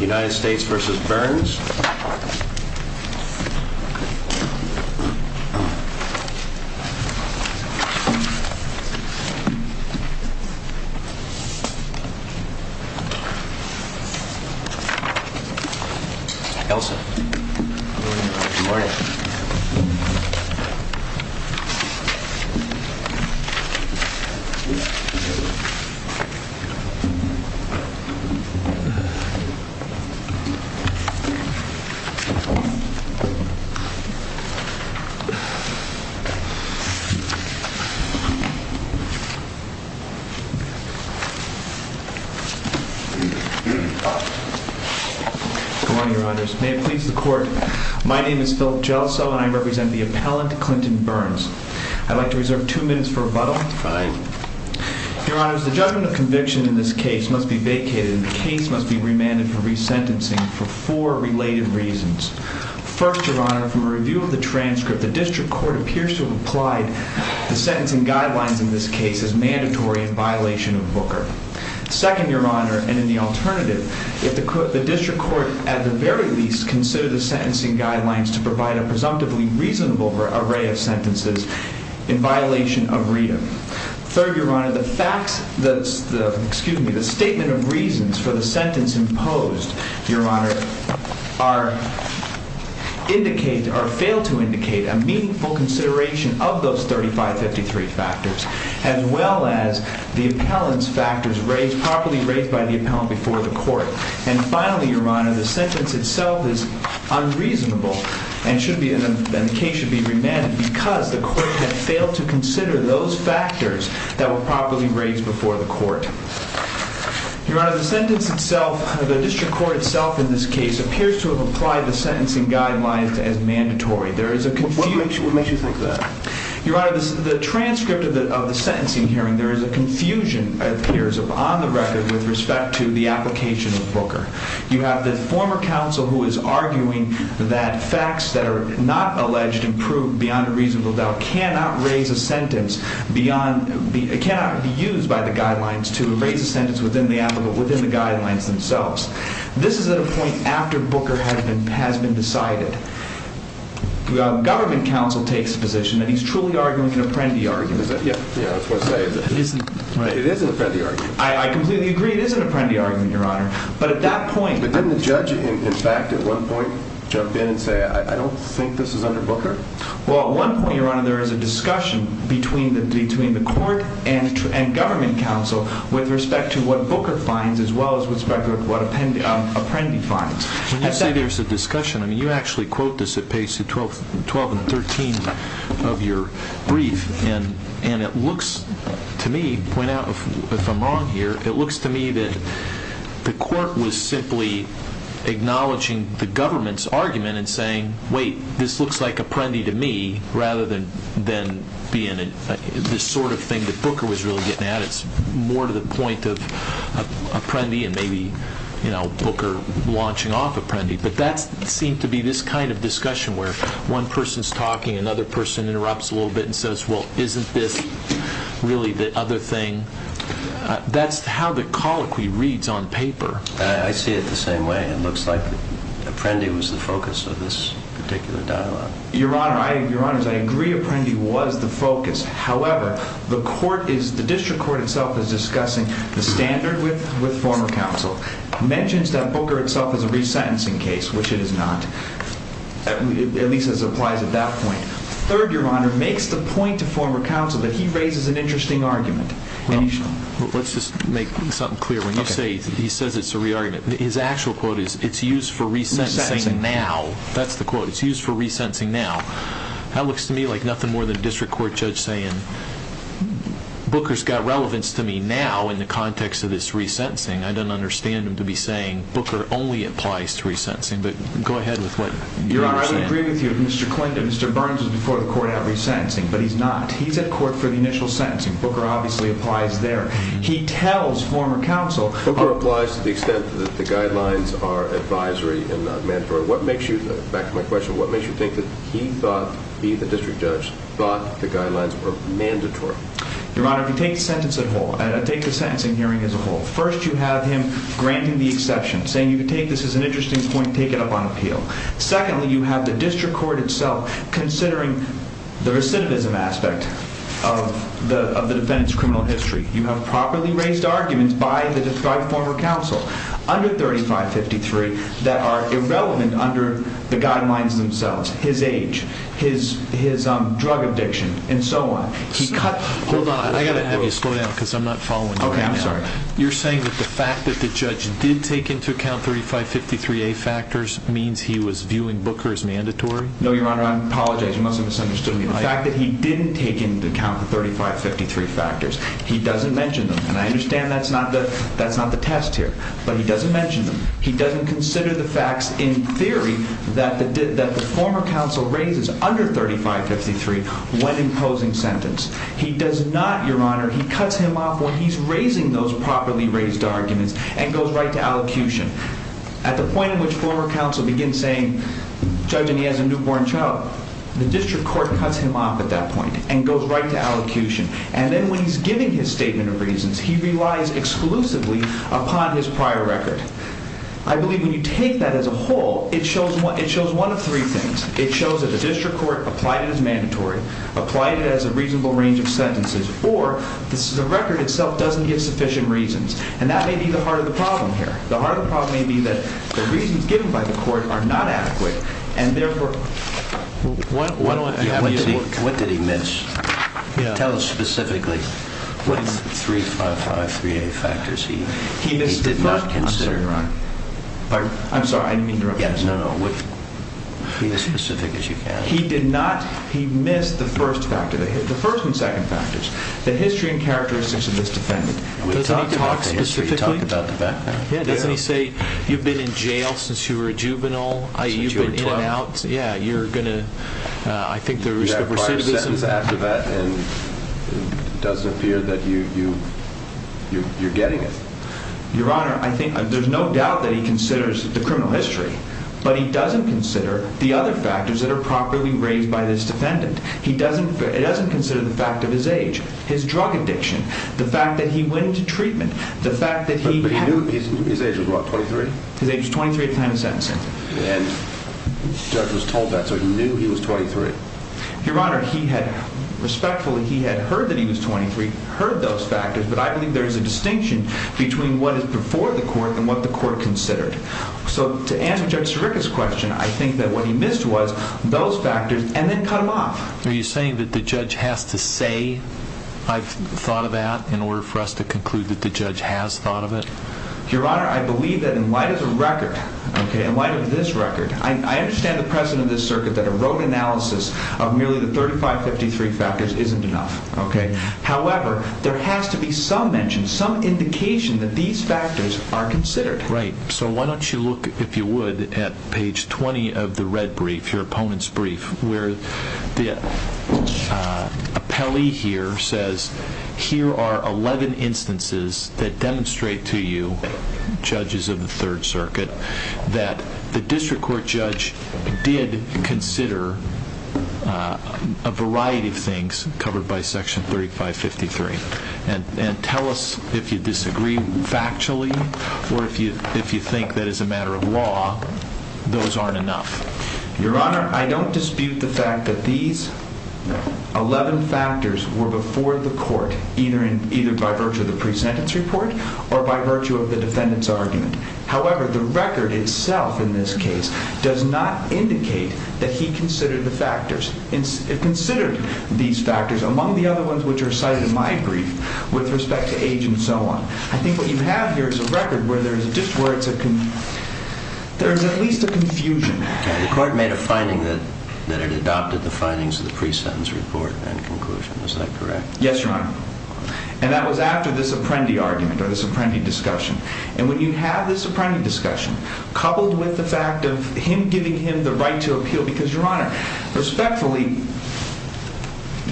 United States v. Burns Elsa Good morning Your Honors, may it please the Court, my name is Philip Jelso and I represent the appellant Clinton Burns. I'd like to reserve two minutes for rebuttal. Fine. Your Honors, the judgment of conviction in this case must be vacated and the case must be remanded for resentencing for four related reasons. First, Your Honor, from a review of the transcript, the District Court appears to have applied the sentencing guidelines in this case as mandatory in violation of Booker. Second, Your Honor, and in the alternative, if the District Court, at the very least, consider the sentencing guidelines to provide a presumptively reasonable array of sentences in violation of read-em. Third, Your Honor, the facts, the, excuse me, the statement of reasons for the sentence imposed, Your Honor, are, indicate, or fail to indicate a meaningful consideration of those 3553 factors, as well as the appellant's factors raised, properly raised by the appellant before the Court. And finally, Your Honor, the sentence itself is unreasonable and should be, and the case should be remanded because the Court had failed to consider those factors that were properly raised before the Court. Your Honor, the sentence itself, the District Court itself in this case appears to have applied the sentencing guidelines as mandatory. There is a confusion. What makes you think that? Your Honor, the transcript of the sentencing hearing, there is a confusion, it appears on the record, with respect to the application of Booker. You have the former counsel who is arguing that facts that are not alleged and proved beyond a reasonable doubt cannot raise a sentence beyond, cannot be used by the guidelines to raise a sentence within the appellant, within the guidelines themselves. This is at a point after Booker has been decided. Government counsel takes the position that he's truly arguing an Apprendi argument. Yeah, that's what I'm saying. It is an Apprendi argument. I completely agree it is an Apprendi argument, Your Honor. But at that point... But didn't the judge, in fact, at one point jump in and say, I don't think this is under Booker? Well, at one point, Your Honor, there is a discussion between the Court and government counsel with respect to what Booker finds as well as with respect to what Apprendi finds. When you say there's a discussion, I mean, you actually quote this at pages 12 and 13 of your brief, and it looks to me, point out if I'm wrong here, it looks to me that the Court was simply acknowledging the government's argument and saying, wait, this looks like Apprendi to me rather than being this sort of thing that Booker was really getting at. It's more to the point of Apprendi and maybe, you know, Booker launching off Apprendi. But that seemed to be this kind of discussion where one person's talking, another person interrupts a little bit and says, well, isn't this really the other thing? That's how the colloquy reads on paper. I see it the same way. It looks like Apprendi was the focus of this particular dialogue. Your Honor, I agree Apprendi was the focus. However, the District Court itself is discussing the standard with former counsel, mentions that Booker itself is a resentencing case, which it is not, at least as it applies at that point. Third, Your Honor, makes the point to former counsel that he raises an interesting argument. Let's just make something clear. When you say he says it's a re-argument, his actual quote is, it's used for resentencing now. That's the quote. It's used for resentencing now. That looks to me like nothing more than a District Court judge saying, Booker's got relevance to me now in the context of this resentencing. I don't understand him to be saying, Booker only applies to resentencing. But go ahead with what you're saying. Your Honor, I would agree with you. Mr. Clinton, Mr. Burns was before the court at resentencing, but he's not. He's at court for the initial sentencing. Booker obviously applies there. He tells former counsel— Booker applies to the extent that the guidelines are advisory and not mandatory. What makes you—back to my question—what makes you think that he thought, he, the District Judge, thought the guidelines were mandatory? Your Honor, if you take the sentencing hearing as a whole, first you have him granting the exception, saying you can take this as an interesting point, take it up on appeal. Secondly, you have the District Court itself considering the recidivism aspect of the defendant's criminal history. You have properly raised arguments by the former counsel under 3553 that are irrelevant under the guidelines themselves, his age, his drug addiction, and so on. He cut— Hold on. I've got to have you slow down because I'm not following you. Okay. I'm sorry. You're saying that the fact that the judge did take into account 3553A factors means he was viewing Booker as mandatory? No, Your Honor. I apologize. You must have misunderstood me. The fact that he didn't take into account the 3553 factors, he doesn't mention them. And I understand that's not the test here, but he doesn't mention them. He doesn't consider the facts in theory that the former counsel raises under 3553 when imposing sentence. He does not, Your Honor. He cuts him off when he's raising those properly raised arguments and goes right to allocution. At the point in which former counsel begins saying, judging he has a newborn child, the District Court cuts him off at that point and goes right to allocution. And then when he's giving his statement of reasons, he relies exclusively upon his prior record. I believe when you take that as a whole, it shows one of three things. It shows that the District Court applied it as mandatory, applied it as a reasonable range of sentences, or the record itself doesn't give sufficient reasons. And that may be the heart of the problem here. The heart of the problem may be that the reasons given by the court are not adequate. And therefore, what did he miss? Tell us specifically. With 3553A factors, he did not consider them. I'm sorry. I didn't mean to interrupt you. No, no. Be as specific as you can. He did not. He missed the first factor. The first and second factors, the history and characteristics of this defendant. Doesn't he talk specifically? Doesn't he say, you've been in jail since you were a juvenile? Since you were 12. Yeah, you're going to, I think there's a recidivism factor. You have prior sentence after that, and it doesn't appear that you're getting it. Your Honor, I think, there's no doubt that he considers the criminal history, but he doesn't consider the other factors that are properly raised by this defendant. He doesn't, it doesn't consider the fact of his age, his drug addiction, the fact that he went into treatment, the fact that he... But he knew his age was what, 23? His age was 23 at the time of sentencing. And the judge was told that, so he knew he was 23. Your Honor, he had, respectfully, he had heard that he was 23, heard those factors, but I believe there is a distinction between what is before the court and what the court considered. So to answer Judge Sirica's question, I think that what he missed was those factors and then cut them off. Are you saying that the judge has to say, I've thought of that, in order for us to conclude that the judge has thought of it? Your Honor, I believe that in light of the record, in light of this record, I understand the precedent of this circuit that a road analysis of merely the 3553 factors isn't enough. However, there has to be some mention, some indication that these factors are considered. Right. So why don't you look, if you would, at page 20 of the red brief, your opponent's brief, where the appellee here says, here are 11 instances that demonstrate to you, judges of the Third Circuit, that the district court judge did consider a variety of things covered by Section 3553. And tell us if you disagree factually or if you think that as a matter of law, those aren't enough. Your Honor, I don't dispute the fact that these 11 factors were before the court, either by virtue of the presentence report or by virtue of the defendant's argument. However, the record itself in this case does not indicate that he considered the factors. It considered these factors, among the other ones which are cited in my brief, with respect to age and so on. I think what you have here is a record where there is at least a confusion. The court made a finding that it adopted the findings of the presentence report and conclusion. Is that correct? Yes, Your Honor. And that was after this Apprendi argument or this Apprendi discussion. And when you have this Apprendi discussion, coupled with the fact of him giving him the right to appeal, because, Your Honor, respectfully,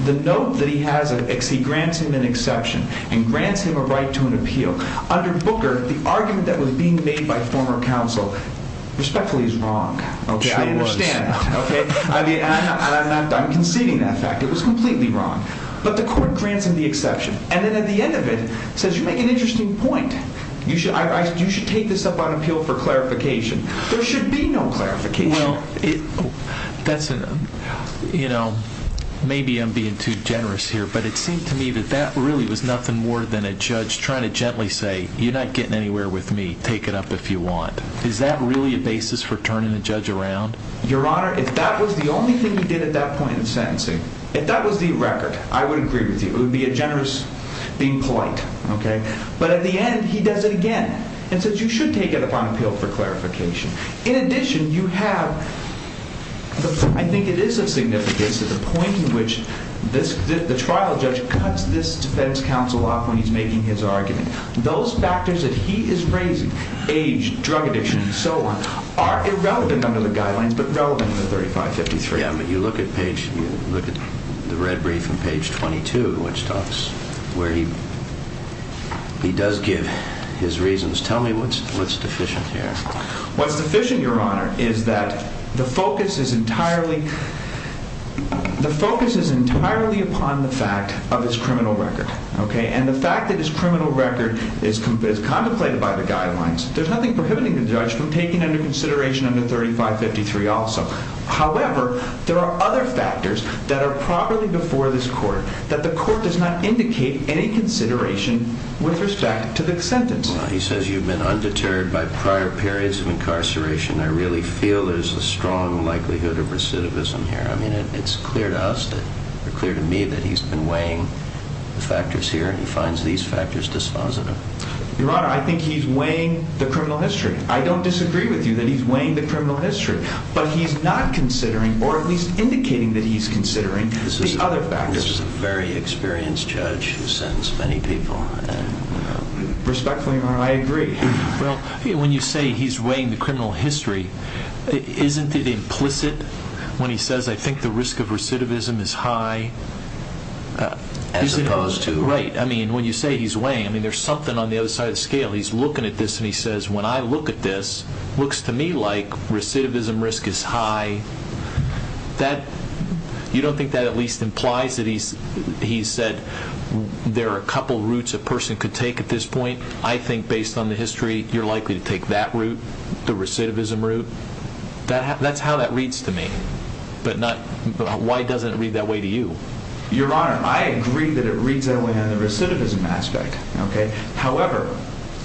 the note that he has is he grants him an exception and grants him a right to an appeal. Under Booker, the argument that was being made by former counsel, respectfully, is wrong. Okay, I understand. I'm conceding that fact. It was completely wrong. But the court grants him the exception. And then at the end of it, says, you make an interesting point. You should take this up on appeal for clarification. There should be no clarification. Well, maybe I'm being too generous here, but it seemed to me that that really was nothing more than a judge trying to gently say, you're not getting anywhere with me. Take it up if you want. Is that really a basis for turning a judge around? Your Honor, if that was the only thing he did at that point in sentencing, if that was the record, I would agree with you. It would be a generous being polite. But at the end, he does it again and says, you should take it up on appeal for clarification. In addition, you have, I think it is of significance to the point in which the trial judge cuts this defense counsel off when he's making his argument. Those factors that he is raising, age, drug addiction, and so on, are irrelevant under the guidelines, but relevant in the 3553. You look at the red brief on page 22, which talks where he does give his reasons. Tell me what's deficient here. What's deficient, Your Honor, is that the focus is entirely upon the fact of his criminal record. And the fact that his criminal record is contemplated by the guidelines, there's nothing prohibiting the judge from taking into consideration under 3553 also. However, there are other factors that are properly before this court that the court does not indicate any consideration with respect to the sentence. He says you've been undeterred by prior periods of incarceration. I really feel there's a strong likelihood of recidivism here. I mean, it's clear to us, clear to me that he's been weighing the factors here and he finds these factors dispositive. Your Honor, I think he's weighing the criminal history. I don't disagree with you that he's weighing the criminal history. But he's not considering, or at least indicating that he's considering, the other factors. This is a very experienced judge who's sentenced many people. Respectfully, Your Honor, I agree. Well, when you say he's weighing the criminal history, isn't it implicit when he says, I think the risk of recidivism is high? As opposed to? Right. I mean, when you say he's weighing, I mean, there's something on the other side of the scale. He's looking at this and he says, when I look at this, it looks to me like recidivism risk is high. You don't think that at least implies that he's said there are a couple routes a person could take at this point? I think based on the history, you're likely to take that route, the recidivism route. That's how that reads to me. But why doesn't it read that way to you? Your Honor, I agree that it reads that way on the recidivism aspect. However,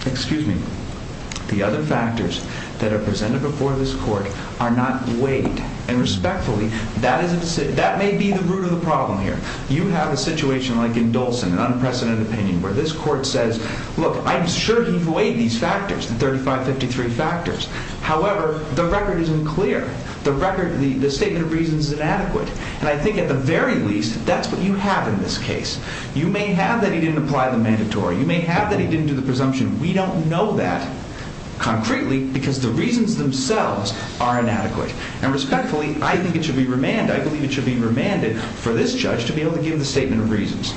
excuse me, the other factors that are presented before this court are not weighed. And respectfully, that may be the root of the problem here. You have a situation like in Dolson, an unprecedented opinion, where this court says, look, I'm sure he's weighed these factors, the 3553 factors. However, the record isn't clear. The record, the statement of reasons is inadequate. And I think at the very least, that's what you have in this case. You may have that he didn't apply the mandatory. You may have that he didn't do the presumption. We don't know that, concretely, because the reasons themselves are inadequate. And respectfully, I think it should be remanded. I believe it should be remanded for this judge to be able to give the statement of reasons.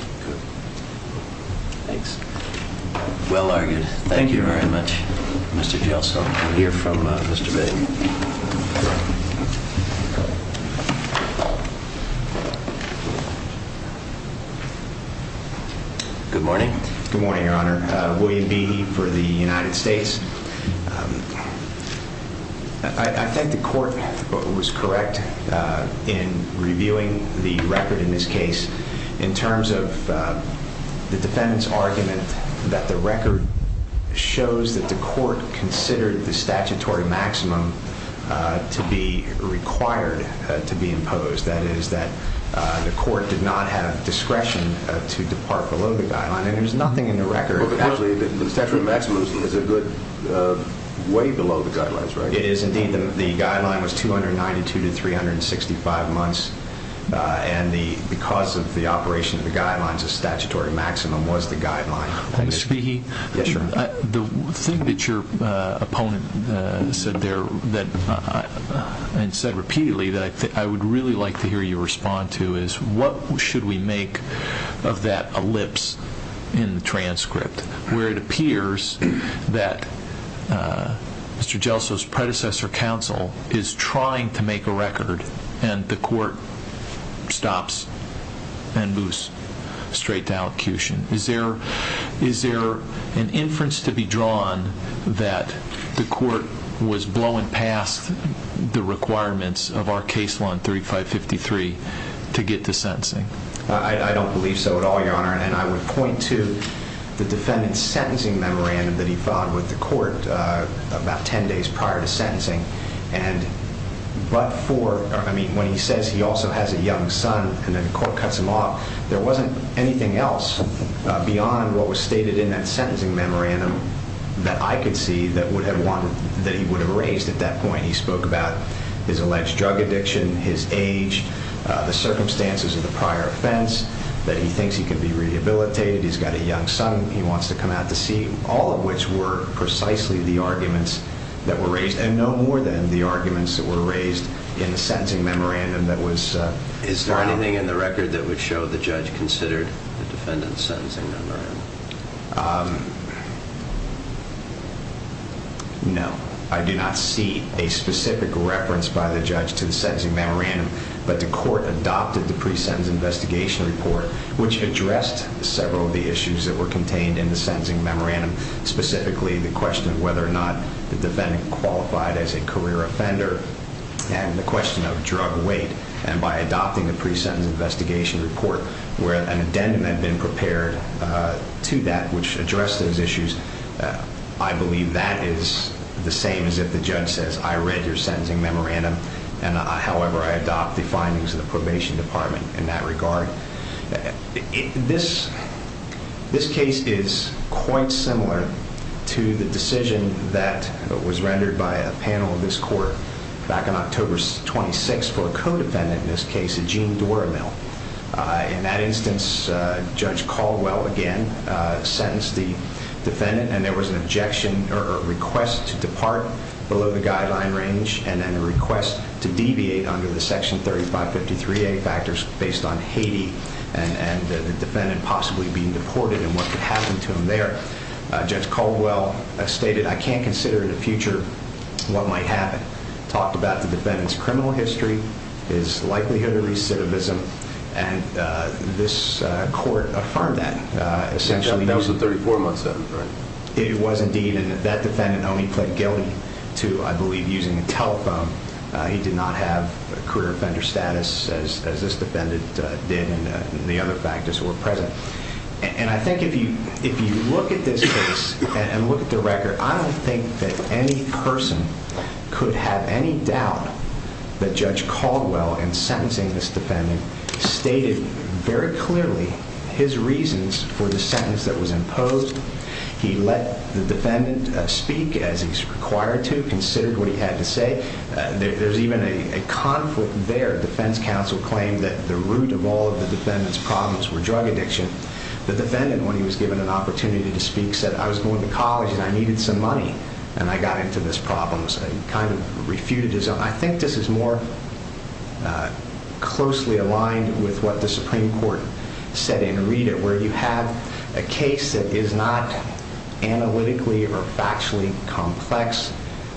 Thanks. Well argued. Thank you very much, Mr. Jelso. We'll hear from Mr. Big. Good morning. Good morning, Your Honor. William Beattie for the United States. I think the court was correct in reviewing the record in this case. In terms of the defendant's argument that the record shows that the court considered the statutory maximum to be required to be imposed. That is, that the court did not have discretion to depart below the guideline. There's nothing in the record. The statutory maximum is a good way below the guidelines, right? It is, indeed. The guideline was 292 to 365 months. And because of the operation of the guidelines, the statutory maximum was the guideline. Mr. Beattie, the thing that your opponent said there and said repeatedly that I would really like to hear you respond to is, what should we make of that ellipse in the transcript where it appears that Mr. Jelso's predecessor counsel is trying to make a record and the court stops and moves straight to allocution? Is there an inference to be drawn that the court was blowing past the requirements of our case law in 3553 to get to sentencing? I don't believe so at all, Your Honor. And I would point to the defendant's sentencing memorandum that he filed with the court about 10 days prior to sentencing. I mean, when he says he also has a young son and then the court cuts him off, there wasn't anything else beyond what was stated in that sentencing memorandum that I could see that he would have raised at that point. He spoke about his alleged drug addiction, his age, the circumstances of the prior offense, that he thinks he could be rehabilitated, he's got a young son he wants to come out to see, all of which were precisely the arguments that were raised. And no more than the arguments that were raised in the sentencing memorandum that was filed. Is there anything in the record that would show the judge considered the defendant's sentencing memorandum? No. I do not see a specific reference by the judge to the sentencing memorandum, but the court adopted the pre-sentence investigation report, which addressed several of the issues that were contained in the sentencing memorandum, specifically the question of whether or not the defendant qualified as a career offender, and the question of drug weight. And by adopting the pre-sentence investigation report, where an addendum had been prepared to that which addressed those issues, I believe that is the same as if the judge says, I read your sentencing memorandum, and however I adopt the findings of the probation department in that regard. This case is quite similar to the decision that was rendered by a panel of this court back on October 26th for a co-defendant in this case, Eugene Dora-Mill. In that instance, Judge Caldwell again sentenced the defendant, and there was an objection or a request to depart below the guideline range, and then a request to deviate under the section 3553A factors based on Haiti and the defendant possibly being deported and what could happen to him there. Judge Caldwell stated, I can't consider in the future what might happen, talked about the defendant's criminal history, his likelihood of recidivism, and this court affirmed that, essentially. That was in 34 months, though, right? It was indeed, and that defendant only pled guilty to, I believe, using a telephone. He did not have a career offender status as this defendant did in the other factors that were present. And I think if you look at this case and look at the record, I don't think that any person could have any doubt that Judge Caldwell, in sentencing this defendant, stated very clearly his reasons for the sentence that was imposed. He let the defendant speak as he's required to, considered what he had to say. There's even a conflict there. Defense counsel claimed that the root of all of the defendant's problems were drug addiction. The defendant, when he was given an opportunity to speak, said, I was going to college and I needed some money, and I got into this problem. He kind of refuted his own. I think this is more closely aligned with what the Supreme Court said in a readout, where you have a case that is not analytically or factually complex,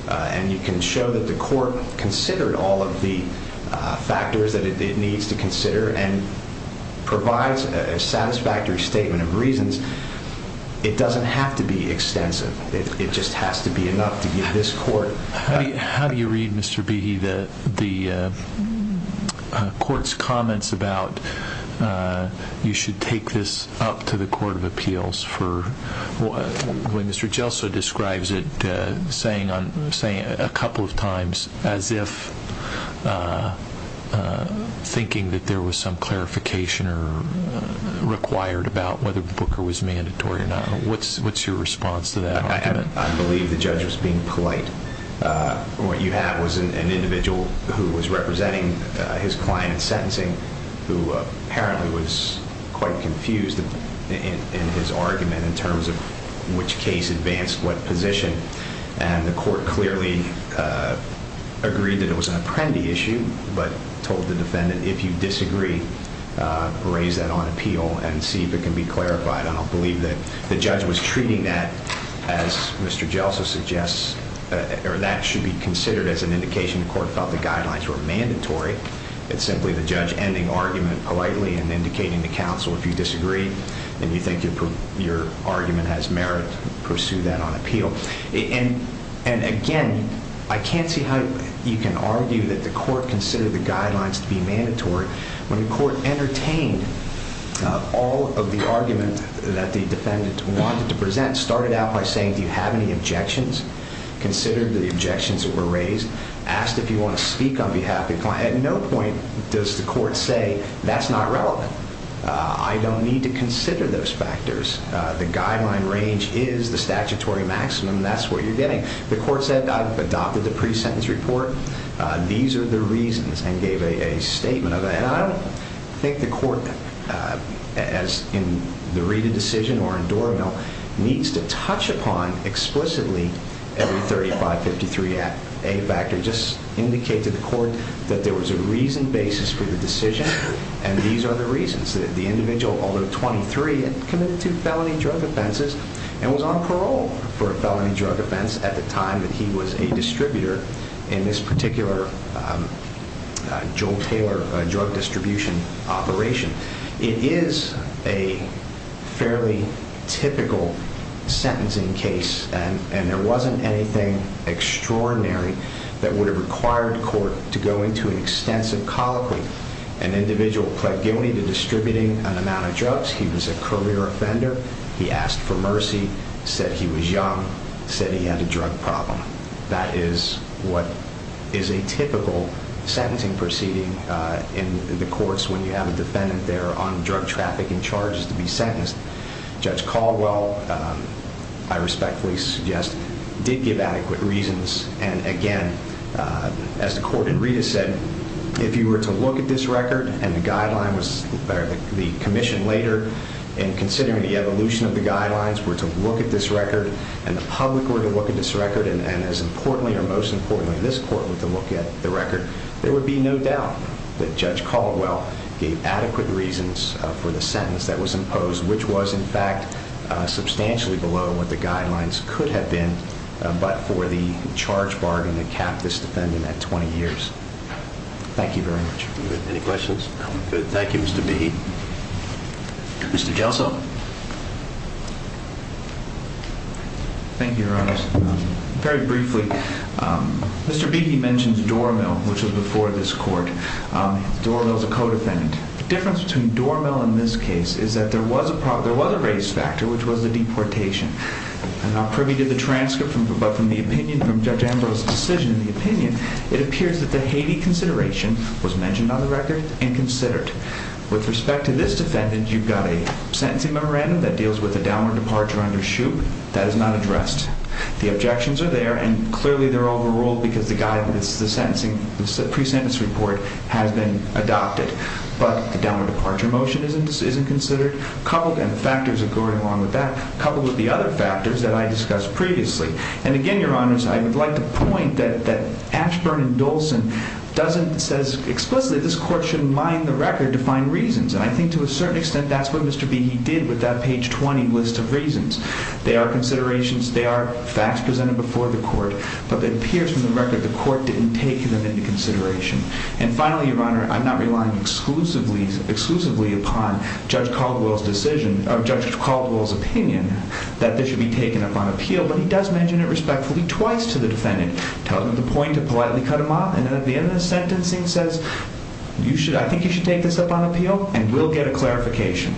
and you can show that the court considered all of the factors that it needs to consider and provides a satisfactory statement of reasons. It doesn't have to be extensive. It just has to be enough to get this court. How do you read, Mr. Behe, the court's comments about you should take this up to the Court of Appeals for what Mr. Gelsow describes it saying a couple of times as if thinking that there was some clarification required about whether Booker was mandatory or not? What's your response to that? I believe the judge was being polite. What you have was an individual who was representing his client in sentencing who apparently was quite confused in his argument in terms of which case advanced what position, and the court clearly agreed that it was an apprendee issue but told the defendant, if you disagree, raise that on appeal and see if it can be clarified. I don't believe that the judge was treating that as Mr. Gelsow suggests or that should be considered as an indication the court felt the guidelines were mandatory. It's simply the judge ending argument politely and indicating to counsel, if you disagree and you think your argument has merit, pursue that on appeal. And again, I can't see how you can argue that the court considered the guidelines to be mandatory when the court entertained all of the argument that the defendant wanted to present, started out by saying do you have any objections, considered the objections that were raised, asked if you want to speak on behalf of the client. At no point does the court say that's not relevant. I don't need to consider those factors. The guideline range is the statutory maximum. That's what you're getting. The court said I've adopted the pre-sentence report. These are the reasons and gave a statement of that. And I don't think the court, as in the Rita decision or in Dormill, needs to touch upon explicitly every 3553A factor. Just indicate to the court that there was a reasoned basis for the decision, and these are the reasons that the individual, although 23, had committed two felony drug offenses and was on parole for a felony drug offense at the time that he was a distributor in this particular Joel Taylor drug distribution operation. It is a fairly typical sentencing case, and there wasn't anything extraordinary that would have required court to go into an extensive colloquy. An individual pled guilty to distributing an amount of drugs. He was a career offender. He asked for mercy, said he was young, said he had a drug problem. That is what is a typical sentencing proceeding in the courts when you have a defendant there on drug traffic and charges to be sentenced. Judge Caldwell, I respectfully suggest, did give adequate reasons, and again, as the court in Rita said, if you were to look at this record, and the commission later in considering the evolution of the guidelines were to look at this record, and the public were to look at this record, and as importantly or most importantly, this court were to look at the record, there would be no doubt that Judge Caldwell gave adequate reasons for the sentence that was imposed, which was, in fact, substantially below what the guidelines could have been, but for the charge bargain that capped this defendant at 20 years. Thank you very much. Any questions? Thank you, Mr. Beheat. Mr. Jelso. Thank you, Your Honor. Very briefly, Mr. Beheat mentions Dormill, which was before this court. Dormill is a co-defendant. The difference between Dormill in this case is that there was a race factor, which was the deportation. I'm not privy to the transcript, but from the opinion from Judge Ambrose's decision, the opinion, it appears that the Haiti consideration was mentioned on the record and considered. With respect to this defendant, you've got a sentencing memorandum that deals with a downward departure under Shoup. That is not addressed. The objections are there, and clearly they're overruled because the guidance, the sentencing, the pre-sentence report has been adopted, but the downward departure motion isn't considered, coupled, and factors are going along with that, coupled with the other factors that I discussed previously. And again, Your Honors, I would like to point that Ashburn and Dolson doesn't say explicitly that this court should mine the record to find reasons, and I think to a certain extent that's what Mr. Beheat did with that page 20 list of reasons. They are considerations, they are facts presented before the court, but it appears from the record the court didn't take them into consideration. And finally, Your Honor, I'm not relying exclusively upon Judge Caldwell's decision, or Judge Caldwell's opinion, that this should be taken up on appeal, but he does mention it respectfully twice to the defendant. Tells him the point to politely cut him off, and at the end of the sentencing says, I think you should take this up on appeal, and we'll get a clarification.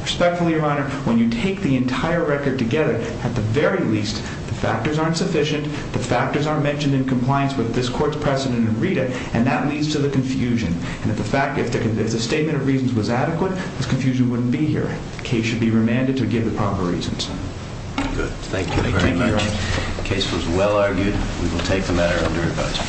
Respectfully, Your Honor, when you take the entire record together, at the very least, the factors aren't sufficient, the factors aren't mentioned in compliance with this court's precedent and read it, and that leads to the confusion. And if the statement of reasons was adequate, this confusion wouldn't be here. The case should be remanded to give the proper reasons. Good. Thank you very much. Thank you, Your Honor. The case was well argued. We will take the matter under advisement.